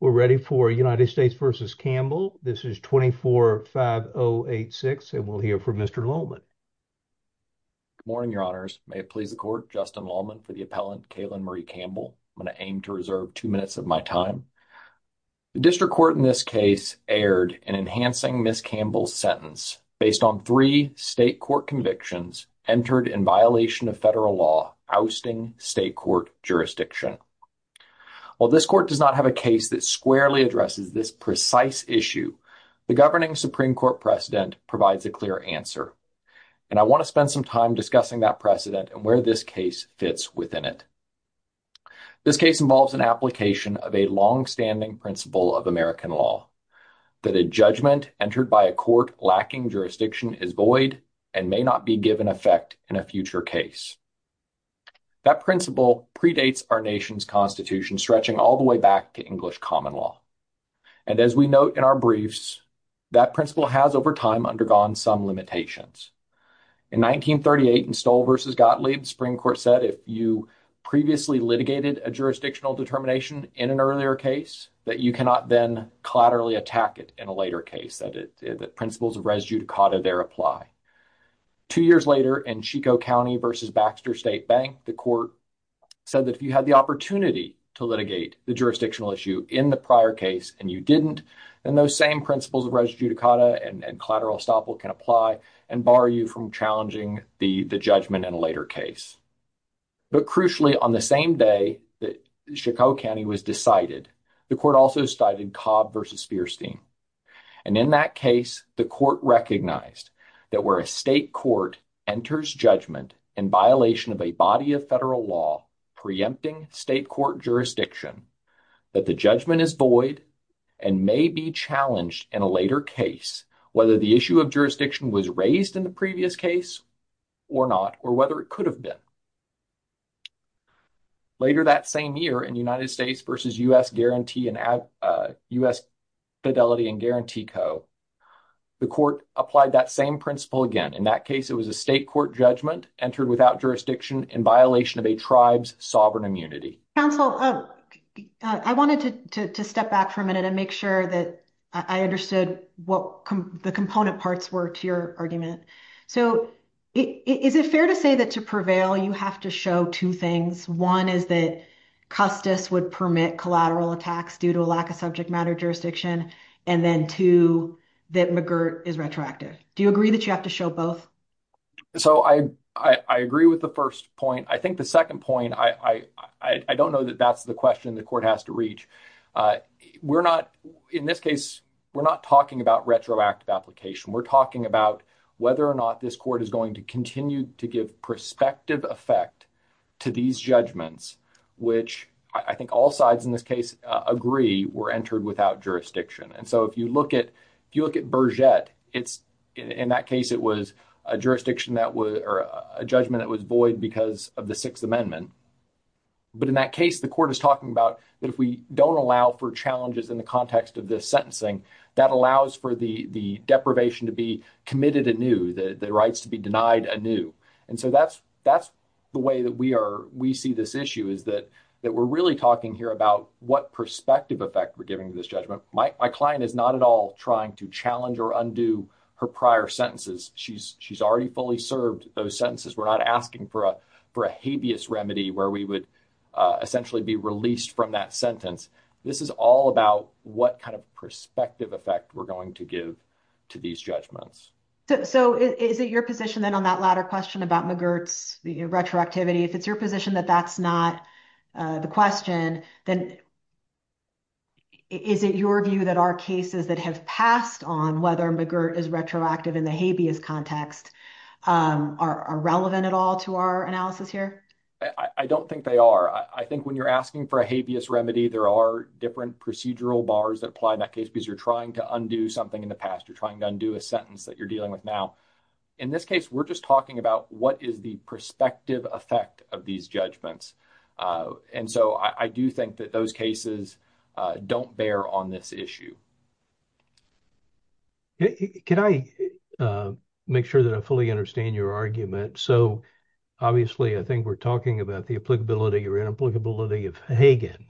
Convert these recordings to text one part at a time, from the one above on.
We're ready for United States v. Campbell. This is 24-5086 and we'll hear from Mr. Lallman. Good morning, your honors. May it please the court, Justin Lallman for the appellant, Kaylin Marie Campbell. I'm going to aim to reserve two minutes of my time. The district court in this case erred in enhancing Ms. Campbell's sentence based on three state court convictions entered in violation of federal law ousting state court jurisdiction. While this court does not have a case that squarely addresses this precise issue, the governing Supreme Court precedent provides a clear answer, and I want to spend some time discussing that precedent and where this case fits within it. This case involves an application of a long-standing principle of American law that a judgment entered by a court lacking jurisdiction is void and may not be given effect in a future case. That principle predates our nation's constitution, stretching all the way back to English common law, and as we note in our briefs, that principle has over time undergone some limitations. In 1938 in Stoll v. Gottlieb, the Supreme Court said if you previously litigated a jurisdictional determination in an earlier case, that you cannot then collaterally attack it in a later case, that principles of res judicata there apply. Two years later in Chico County v. Baxter State Bank, the court said that if you had the opportunity to litigate the jurisdictional issue in the prior case and you didn't, then those same principles of res judicata and collateral estoppel can apply and bar you from challenging the judgment in a later case. But crucially, on the same day that Chico County was decided, the court also cited Cobb v. Speirstein, and in that case the court recognized that where a state court enters judgment in violation of a body of federal law preempting state court jurisdiction, that the judgment is void and may be challenged in a later case, whether the issue of jurisdiction was raised in the previous case or not, or whether it could have been. Later that same year in United States v. U.S. Fidelity and Guarantee Co., the court applied that same principle again. In that case, it was a state court judgment entered without jurisdiction in violation of a tribe's sovereign immunity. Counsel, I wanted to step back for a minute and make sure that I understood what the component parts were to your argument. So, is it fair to say that to prevail you have to show two things? One is that Custis would permit collateral attacks due to a lack of subject matter jurisdiction, and then two, that McGirt is retroactive. Do you agree that you have to show both? So, I agree with the first point. I think the second point, I don't know that that's the question the court has to reach. We're not, in this case, we're not talking about retroactive application. We're talking about whether or not this court is going to continue to give prospective effect to these judgments, which I think all sides in this case agree were entered without jurisdiction. And so, if you look at, if you look at Berget, it's, in that case, it was a jurisdiction that was, or a judgment that was void because of the Sixth Amendment. But in that case, the court is talking about that if we don't allow for challenges in the context of this sentencing, that allows for the deprivation to be committed anew, the rights to be denied anew. And so, that's the way that we are, we see this issue is that we're really talking here about what prospective effect we're giving to this judgment. My client is not at all trying to challenge or undo her prior sentences. She's already fully served those sentences. We're not asking for a habeas remedy where we would essentially be released from that sentence. This is all about what kind of prospective effect we're going to give to these judgments. So, is it your position then on that latter question about McGirt's retroactivity, if it's your position that that's not the question, then is it your view that our cases that have passed on whether McGirt is retroactive in the habeas context are relevant at all to our analysis here? I don't think they are. I think when you're asking for a habeas remedy, there are different procedural bars that apply in that case because you're trying to undo something in the past. You're trying to undo a sentence that you're dealing with now. In this case, we're just talking about what is the prospective effect of these judgments. And so, I do think that those cases don't bear on this issue. Can I make sure that I fully understand your argument? So, obviously, I think we're talking about the applicability or inapplicability of Hagen.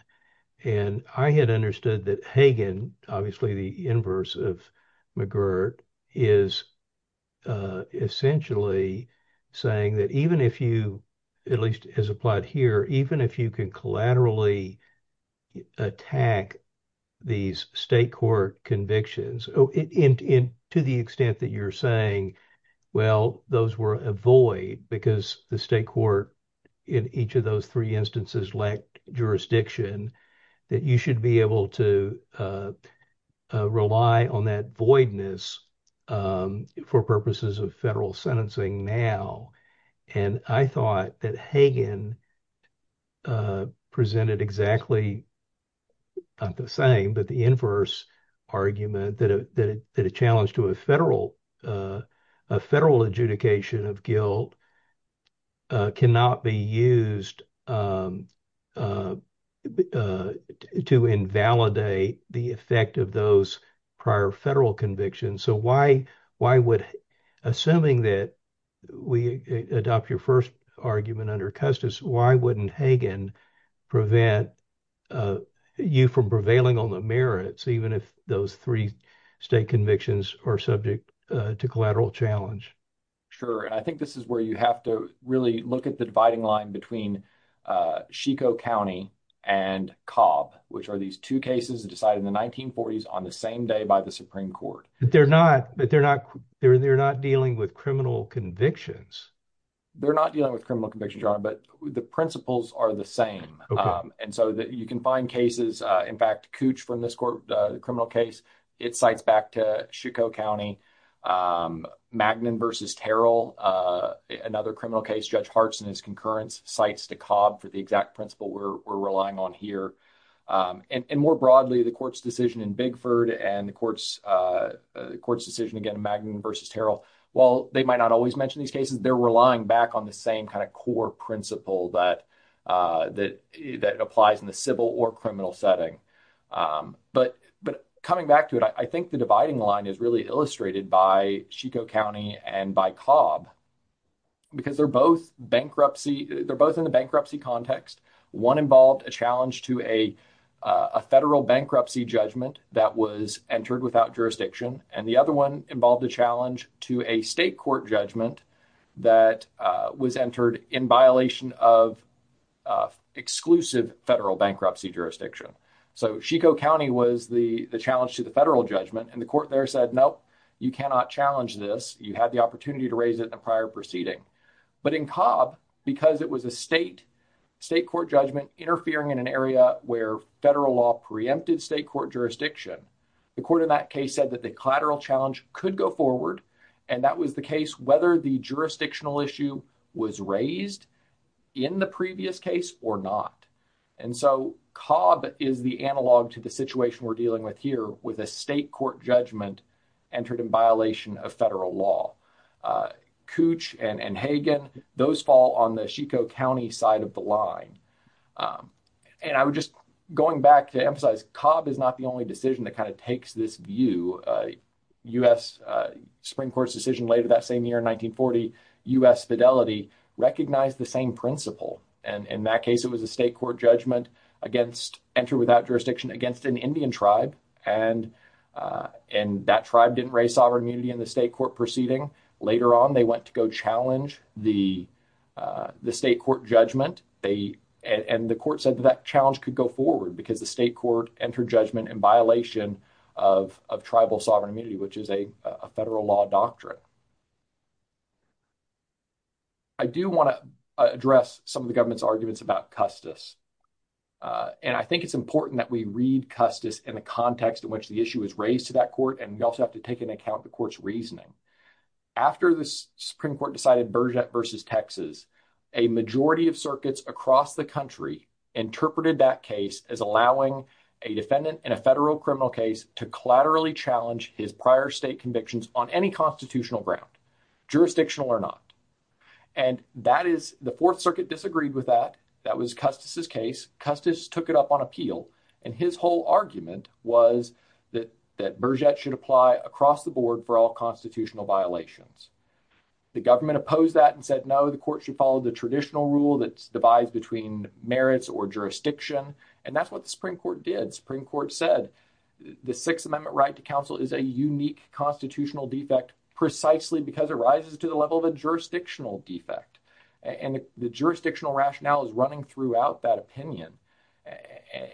And I had understood that Hagen, obviously the inverse of McGirt, is essentially saying that even if you, at least as applied here, even if you can collaterally attack these state court convictions, to the extent that you're saying, well, those were a void because the state court in each of those three instances lacked jurisdiction, that you should be able to rely on that voidness for purposes of federal sentencing now. And I thought that Hagen presented exactly, not the same, but the inverse argument that a challenge to a federal adjudication of guilt cannot be used to invalidate the effect of those prior federal convictions. So, assuming that we adopt your first argument under Custis, why wouldn't Hagen prevent you from prevailing on merits, even if those three state convictions are subject to collateral challenge? Sure. And I think this is where you have to really look at the dividing line between Chico County and Cobb, which are these two cases decided in the 1940s on the same day by the Supreme Court. But they're not dealing with criminal convictions. They're not dealing with criminal convictions, Your Honor, but the principles are the same. And so, you can find cases, in fact, Cooch from this criminal case, it cites back to Chico County, Magnin v. Terrell, another criminal case, Judge Hartson, his concurrence, cites to Cobb for the exact principle we're relying on here. And more broadly, the court's decision in Bigford and the court's decision again in Magnin v. Terrell, while they might not always mention these cases, they're relying back on the same kind of core principle that applies in the civil or criminal setting. But coming back to it, I think the dividing line is really illustrated by Chico County and by Cobb because they're both in the bankruptcy context. One involved a challenge to a federal bankruptcy judgment that was entered without jurisdiction, and the other one involved a challenge to a state court judgment that was entered in violation of exclusive federal bankruptcy jurisdiction. So, Chico County was the challenge to the federal judgment, and the court there said, nope, you cannot challenge this. You had the opportunity to raise it in a prior proceeding. But in Cobb, because it was a state court judgment interfering in an area where federal law preempted state court jurisdiction, the court in that case said that the collateral challenge could go forward, and that was the case whether the jurisdictional issue was raised in the previous case or not. And so, Cobb is the analog to the situation we're dealing with here with a state court judgment entered in violation of federal law. Cooch and Hagen, those fall on the Chico County side of the line. And I would just, going back to emphasize, Cobb is not the only decision that kind of takes this view. U.S. Supreme Court's decision later that same year in 1940, U.S. Fidelity recognized the same principle. And in that case, it was a state court judgment against, entered without jurisdiction against an Indian tribe, and that tribe didn't raise sovereign immunity in the state court proceeding. Later on, they went to go challenge the state court judgment, and the court said that that challenge could go forward because the state court entered judgment in violation of tribal sovereign immunity, which is a federal law doctrine. I do want to address some of the government's arguments about Custis. And I think it's important that we read Custis in the context in which the issue was raised to that court, and we also have to take into account the court's reasoning. After the Supreme Court decided Burgett versus Texas, a majority of circuits across the country interpreted that case as allowing a defendant in a federal criminal case to collaterally challenge his prior state convictions on any constitutional ground, jurisdictional or not. And that is, the Fourth Circuit disagreed with that. That was Custis's case. Custis took it up on appeal, and his whole argument was that Burgett should apply across the board for all constitutional violations. The government opposed that and said, no, the court should follow the traditional rule that's devised between merits or jurisdiction. And that's what the Supreme Court did. The Supreme Court said the Sixth Amendment right to counsel is a unique constitutional defect precisely because it rises to the level of a jurisdictional defect. And the jurisdictional rationale is running throughout that opinion.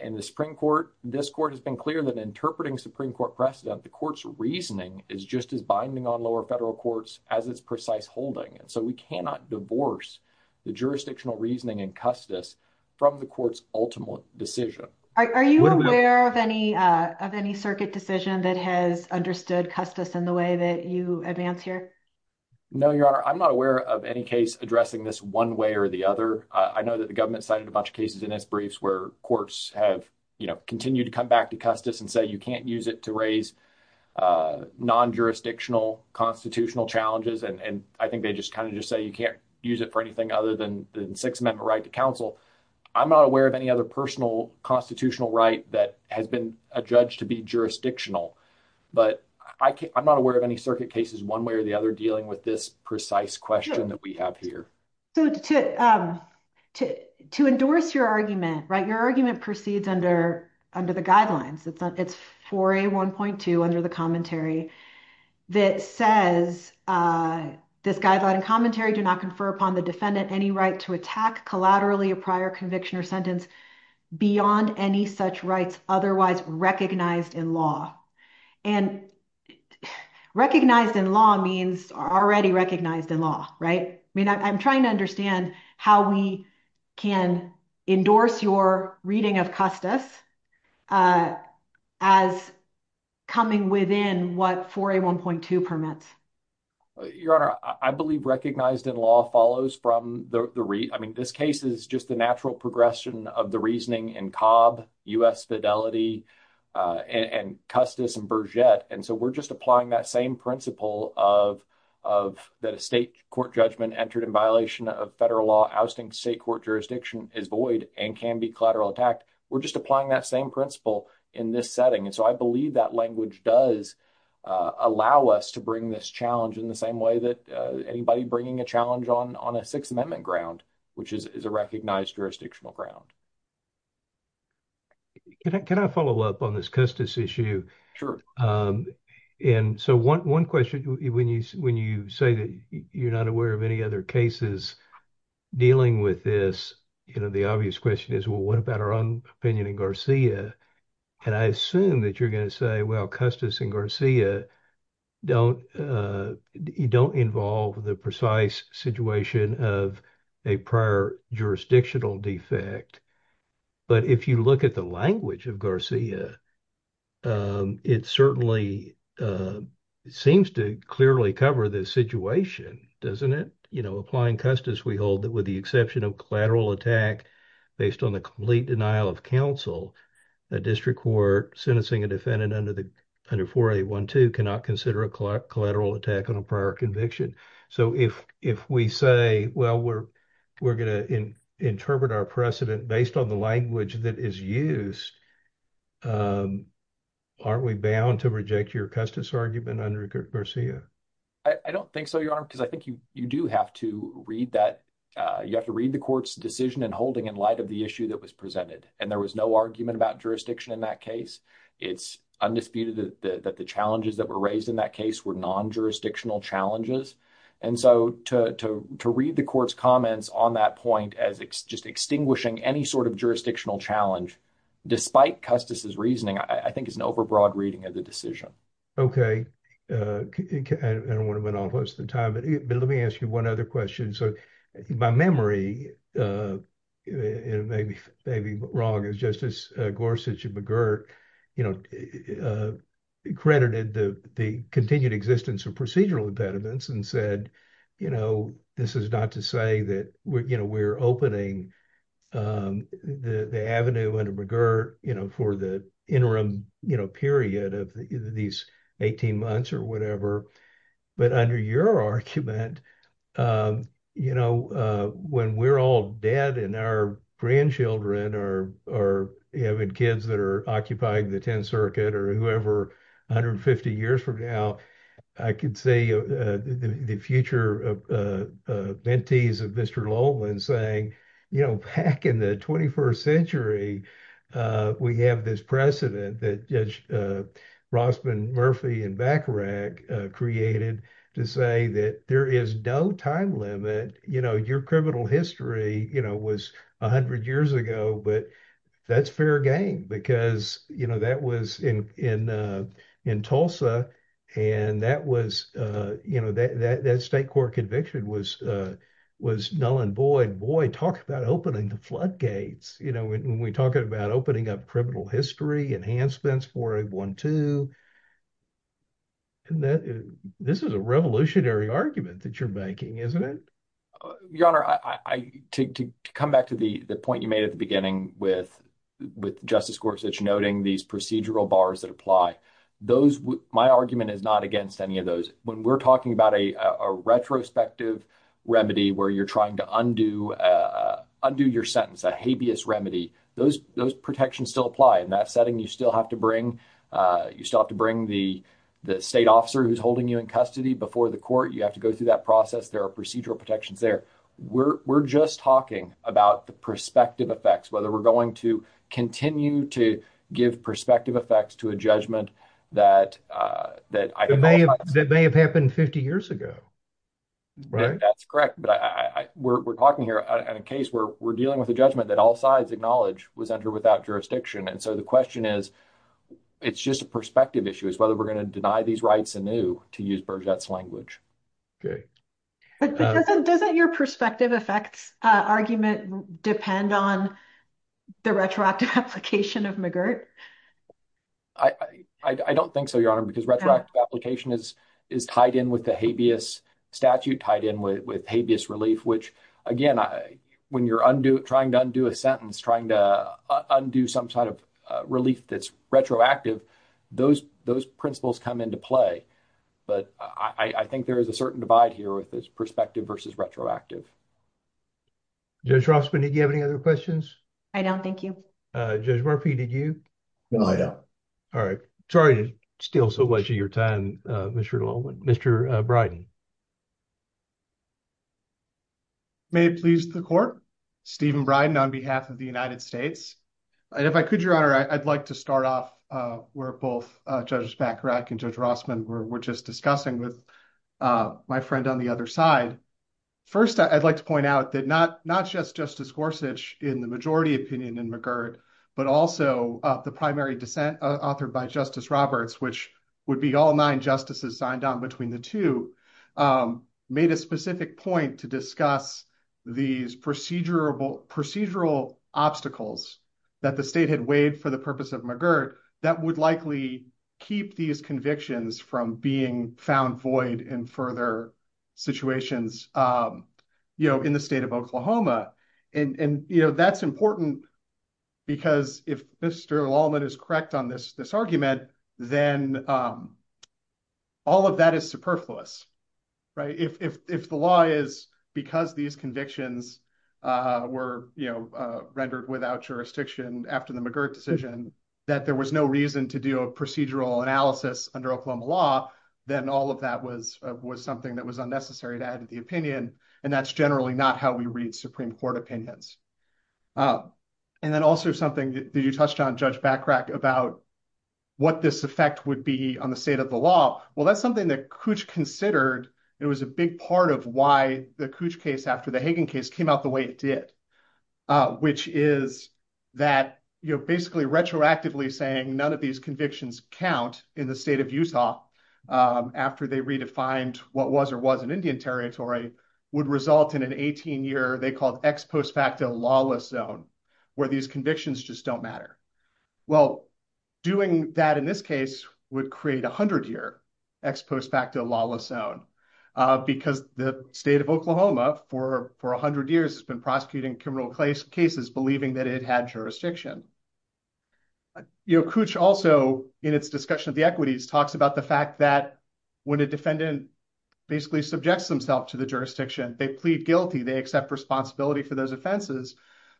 In the Supreme Court, this court has been clear that interpreting Supreme Court precedent, the court's reasoning is just as binding on lower federal courts as its precise holding. And so we cannot divorce the jurisdictional reasoning in Custis from the court's ultimate decision. Are you aware of any of any circuit decision that has understood Custis in the way that you advance here? No, Your Honor, I'm not aware of any case addressing this one way or the other. I know that the government cited a bunch of cases in its briefs where courts have, you know, continue to come back to Custis and say you can't use it to raise non-jurisdictional constitutional challenges. And I think they just kind of just say you can't use it for anything other than the Sixth Amendment right to counsel. I'm not aware of any other personal constitutional right that has been adjudged to be jurisdictional. But I'm not aware of any circuit cases one way or the other dealing with this precise question that we have here. So to endorse your argument, right, your argument proceeds under the guidelines. It's 4A1.2 under the commentary that says this guideline and commentary do not confer upon the defendant any right to attack collaterally a prior conviction or sentence beyond any such rights otherwise recognized in law. And recognized in law means already recognized in law, right? I mean, I'm trying to understand how we can endorse your reading of Custis as coming within what 4A1.2 permits. Your Honor, I believe recognized in law follows from the read. I mean, this case is just the natural progression of the reasoning in Cobb, U.S. Fidelity, and Custis and Berget. And so we're just applying that same principle of that a state court judgment entered in violation of federal law ousting state court jurisdiction is void and can be collateral attacked. We're just applying that same principle in this setting. And so I believe that language does allow us to bring this challenge in the same way that anybody bringing a challenge on a Sixth Amendment ground, which is a recognized jurisdictional ground. Can I follow up on this Custis issue? Sure. And so one question, when you say that you're not aware of any other cases, dealing with this, the obvious question is, well, what about our own opinion in Garcia? And I assume that you're going to say, well, Custis and Garcia don't involve the precise situation of a prior jurisdictional defect. But if you look at the language of Garcia, it certainly seems to clearly cover this situation, doesn't it? You know, applying Custis, we hold that with the exception of collateral attack based on the complete denial of counsel, a district court sentencing a defendant under 4A12 cannot consider a collateral attack on a prior conviction. So if we say, well, we're going to interpret our precedent based on the language that is used, aren't we bound to reject your Custis argument under Garcia? I don't think so, Your Honor, because I think you do have to read that. You have to read the court's decision and holding in light of the issue that was presented. And there was no argument about jurisdiction in that case. It's undisputed that the challenges that were raised in that case were non-jurisdictional challenges. And so to read the court's comments on that point as just extinguishing any sort of jurisdictional challenge, despite Custis' reasoning, I think is an overbroad reading of the decision. Okay. I don't want to spend all the time, but let me ask you one other question. So by memory, it may be wrong as Justice Gorsuch and McGirt, you know, credited the continued existence of procedural impediments and said, you know, this is not to say that, you know, we're opening the avenue under McGirt, you know, for the interim, you know, period of these 18 months or whatever. But under your argument, you know, when we're all dead and our grandchildren are having kids that are occupying the 10th ventees of Mr. Lowland saying, you know, back in the 21st century, we have this precedent that Judge Rossman, Murphy, and Bacharach created to say that there is no time limit, you know, your criminal history, you know, was 100 years ago, but that's fair game because, you know, that was in Tulsa. And that was, you know, that state court conviction was Nuland Boyd. Boyd talked about opening the floodgates, you know, when we talk about opening up criminal history enhancements for 812. This is a revolutionary argument that you're making, isn't it? Your Honor, to come back to the point you made at the beginning with Justice Gorsuch noting these procedural bars that apply, those, my argument is not against any of those. When we're talking about a retrospective remedy where you're trying to undo your sentence, a habeas remedy, those protections still apply. In that setting, you still have to bring the state officer who's holding you in custody before the court. You have to go through that process. There are procedural protections there. We're just talking about the prospective effects, whether we're going to continue to give prospective effects to a judgment that I think all sides... That may have happened 50 years ago, right? That's correct, but we're talking here in a case where we're dealing with a judgment that all sides acknowledge was entered without jurisdiction. And so the question is, it's just a perspective issue, is whether we're going to deny these rights anew to use Burgett's language. Okay. Doesn't your prospective effects argument depend on the retroactive application of McGirt? I don't think so, Your Honor, because retroactive application is tied in with the habeas statute, tied in with habeas relief, which again, when you're trying to undo a sentence, trying to undo some sort of relief that's retroactive, those principles come into play. But I think there is a certain divide here with this perspective versus retroactive. Judge Rossman, did you have any other questions? I don't. Thank you. Judge Murphy, did you? No, I don't. All right. Sorry to steal so much of your time, Mr. Littleman. Mr. Bryden. May it please the court. Stephen Bryden on behalf of the United States. And if I could, Your Honor, I'd like to start off where both Judges Packerak and Judge Rossman were just discussing with my friend on the other side. First, I'd like to point out that not just Justice Gorsuch in the majority opinion in McGirt, but also the primary dissent authored by Justice Roberts, which would be all nine justices signed on between the two, made a specific point to discuss these procedural obstacles that the state had for the purpose of McGirt that would likely keep these convictions from being found void in further situations in the state of Oklahoma. And that's important because if Mr. Littleman is correct on this argument, then all of that is superfluous. If the law is because these convictions were rendered without jurisdiction after the McGirt decision, that there was no reason to do a procedural analysis under Oklahoma law, then all of that was something that was unnecessary to add to the opinion. And that's generally not how we read Supreme Court opinions. And then also something that you touched on, Judge Packerak, about what this effect would be on the state of the law. Well, that's something that Cooch considered. It was a big part of why the Cooch case after the way it did, which is that basically retroactively saying none of these convictions count in the state of Utah after they redefined what was or wasn't Indian territory would result in an 18-year, they called ex post facto lawless zone, where these convictions just don't matter. Well, doing that in this case would create a 100-year ex post facto lawless zone because the state of Oklahoma for 100 years has been prosecuting criminal cases believing that it had jurisdiction. Cooch also, in its discussion of the equities, talks about the fact that when a defendant basically subjects themselves to the jurisdiction, they plead guilty, they accept responsibility for those offenses.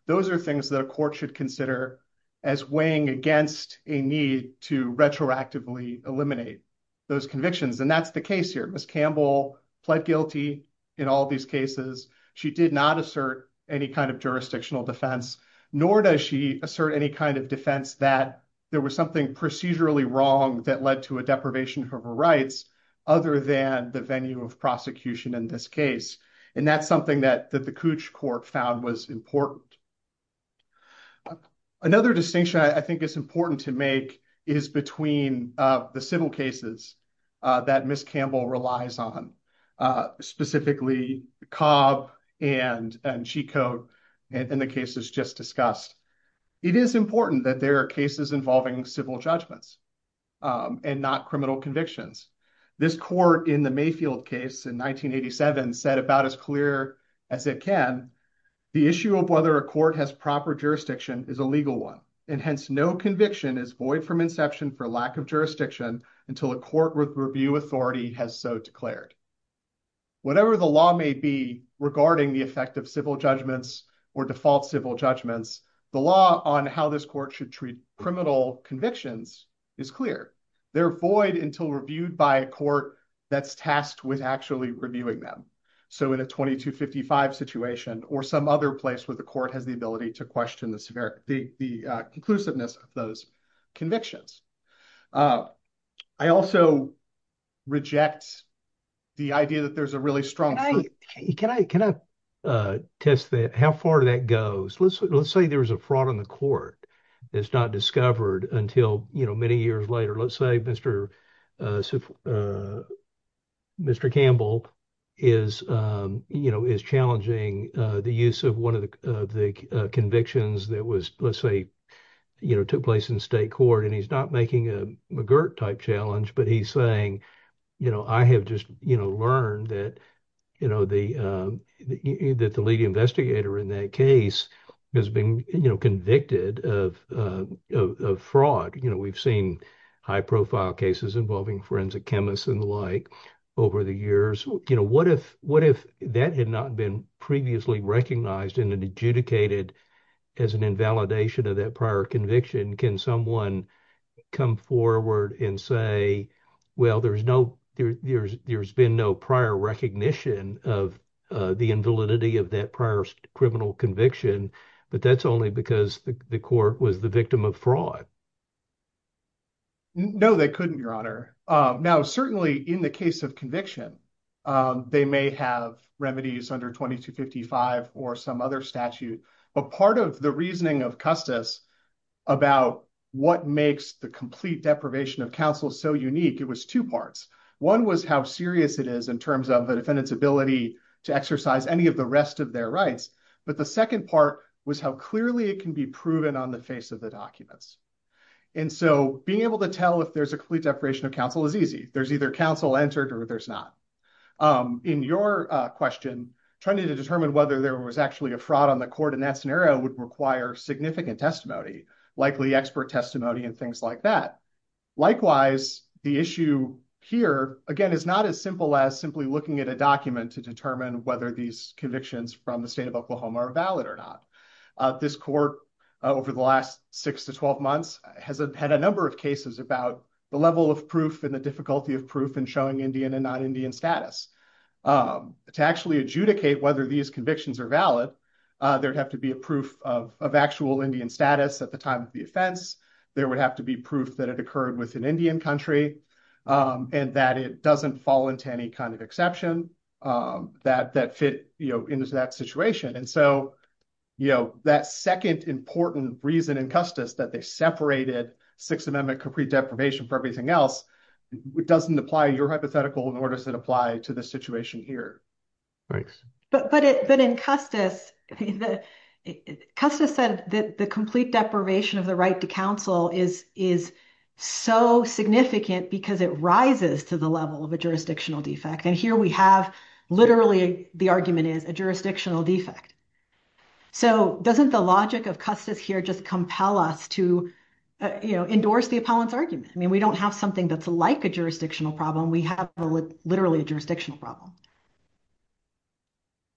Those are things that a court should consider as weighing against a need to retroactively eliminate those convictions. And that's the case here. Ms. Campbell pled guilty in all these cases. She did not assert any kind of jurisdictional defense, nor does she assert any kind of defense that there was something procedurally wrong that led to a deprivation of her rights other than the venue of prosecution in this case. And that's something that the Cooch court found was important. Another distinction I think is important to make is between the civil cases that Ms. Campbell relies on, specifically Cobb and Chico and the cases just discussed. It is important that there are cases involving civil judgments and not criminal convictions. This court in the Mayfield case in 1987 said about as clear as it can, the issue of whether a court has proper jurisdiction is a legal one, and hence no conviction is void from inception for lack of jurisdiction until a court with review authority has so declared. Whatever the law may be regarding the effect of civil judgments or default civil judgments, the law on how this court should treat criminal convictions is clear. They're void until reviewed by a court that's tasked with actually reviewing them. So in a 2255 situation or some other place where the court has the ability to question the conclusiveness of those convictions. I also reject the idea that there's a really strong- Can I test that? How far that goes? Let's say there was a fraud on the court that's not discovered until many years later. Let's say Mr. Campbell is challenging the use of one of the convictions that took place in state court, and he's not making a McGirt-type challenge, but he's saying, I have just learned that the lead investigator in that case has been convicted of fraud. We've seen high-profile cases involving forensic chemists and the like over the years. What if that had not been previously recognized and adjudicated as an invalidation of that prior conviction? Can someone come forward and say, well, there's been no prior recognition of the invalidity of that prior criminal conviction, but that's only because the court was the victim of fraud? No, they couldn't, Your Honor. Now, certainly in the case of conviction, they may have remedies under 2255 or some other statute, but part of the reasoning of Custis about what makes the complete deprivation of counsel so unique, it was two parts. One was how serious it is in terms of the defendant's ability to exercise any of the rest of their rights, but the second part was how clearly it can be proven on the face of the documents. Being able to tell if there's a complete deprivation of counsel is easy. There's either counsel entered or there's not. In your question, trying to determine whether there was actually a fraud on the court in that scenario would require significant testimony, likely expert testimony and things like that. Likewise, the issue here, again, is not as simple as simply looking at a document to determine whether these convictions from the state of Oklahoma are valid or not. This court over the last six to 12 months has had a number of cases about the level of proof and the difficulty of proof in showing Indian and non-Indian status. To actually adjudicate whether these convictions are valid, there'd have to be a proof of actual Indian status at the time of the offense. There would have to be proof that it occurred with an Indian country and that it fell into any kind of exception that fit into that situation. That second important reason in Custis that they separated Sixth Amendment complete deprivation for everything else doesn't apply to your hypothetical, nor does it apply to the situation here. Thanks. But in Custis, Custis said that the complete deprivation of the right to counsel is so significant because it rises to the level of a jurisdictional defect. And here we have literally the argument is a jurisdictional defect. So doesn't the logic of Custis here just compel us to endorse the appellant's argument? I mean, we don't have something that's like a jurisdictional problem. We have literally a jurisdictional problem.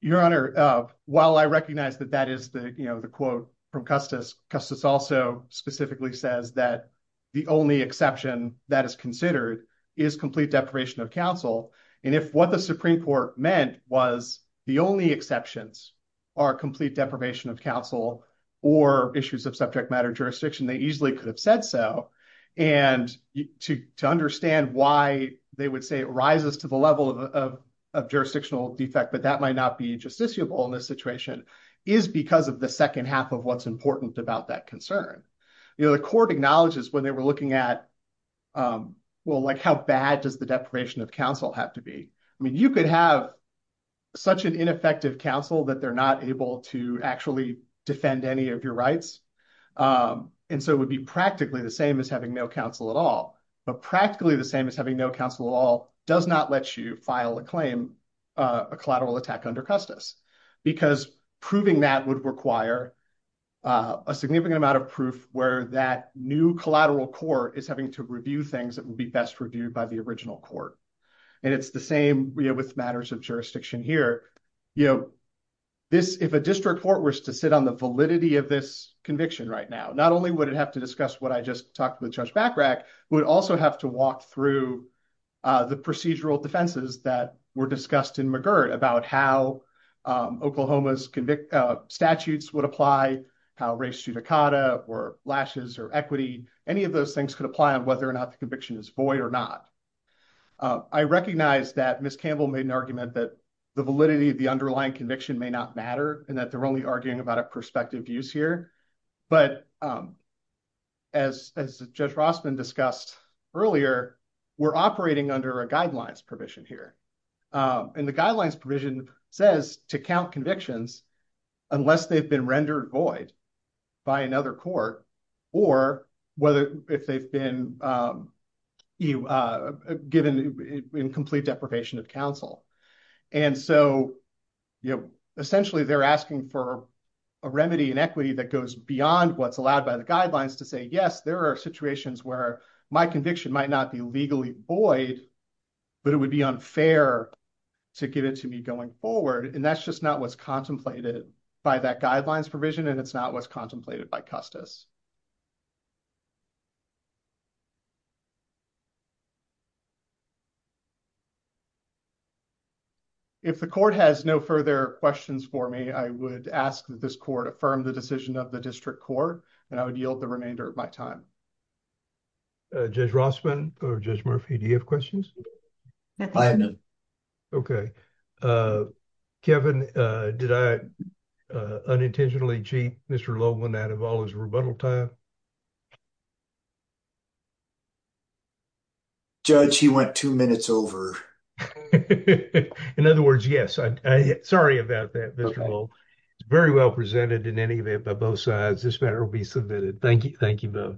Your Honor, while I recognize that that is the quote from Custis, Custis also specifically says that the only exception that is considered is complete deprivation of counsel. And if what the Supreme Court meant was the only exceptions are complete deprivation of counsel or issues of subject matter jurisdiction, they easily could have said so. And to understand why they would say it rises to the level of jurisdictional defect, but that might not be justiciable in this situation is because of the second half of what's important about that concern. The court acknowledges when they were looking at, well, like how bad does the deprivation of counsel have to be? I mean, you could have such an ineffective counsel that they're not able to actually defend any of your rights. And so it would be practically the same as having no counsel at all, but practically the same as having no counsel at all does not let you file a a collateral attack under Custis because proving that would require a significant amount of proof where that new collateral court is having to review things that would be best reviewed by the original court. And it's the same with matters of jurisdiction here. If a district court were to sit on the validity of this conviction right now, not only would it have to discuss what I just talked with Judge Bachrach, would also have to walk through the procedural defenses that were discussed in McGirt about how Oklahoma's statutes would apply, how race judicata or lashes or equity, any of those things could apply on whether or not the conviction is void or not. I recognize that Ms. Campbell made an argument that the validity of the underlying conviction may not matter and that they're only arguing about a perspective use here. But as Judge Rossman discussed earlier, we're operating under a guidelines provision here. And the guidelines provision says to count convictions unless they've been rendered void by another court or whether if they've been given in complete deprivation of counsel. And so, essentially, they're asking for a remedy and equity that goes beyond what's allowed by the guidelines to say, yes, there are situations where my conviction might not be legally void, but it would be unfair to give it to me going forward. And that's just not what's contemplated by that guidelines provision and it's not what's contemplated by Custis. If the court has no further questions for me, I would ask that this court affirm the decision of the district court and I would yield the remainder of my time. Judge Rossman or Judge Murphy, do you have questions? I have none. Okay. Kevin, did I unintentionally cheat Mr. Lowen out of all his rebuttal time? Judge, he went two minutes over. In other words, yes. Sorry about that, Mr. Lowen. It's very well presented in any event by both sides. This matter will be submitted. Thank you. Thank you both.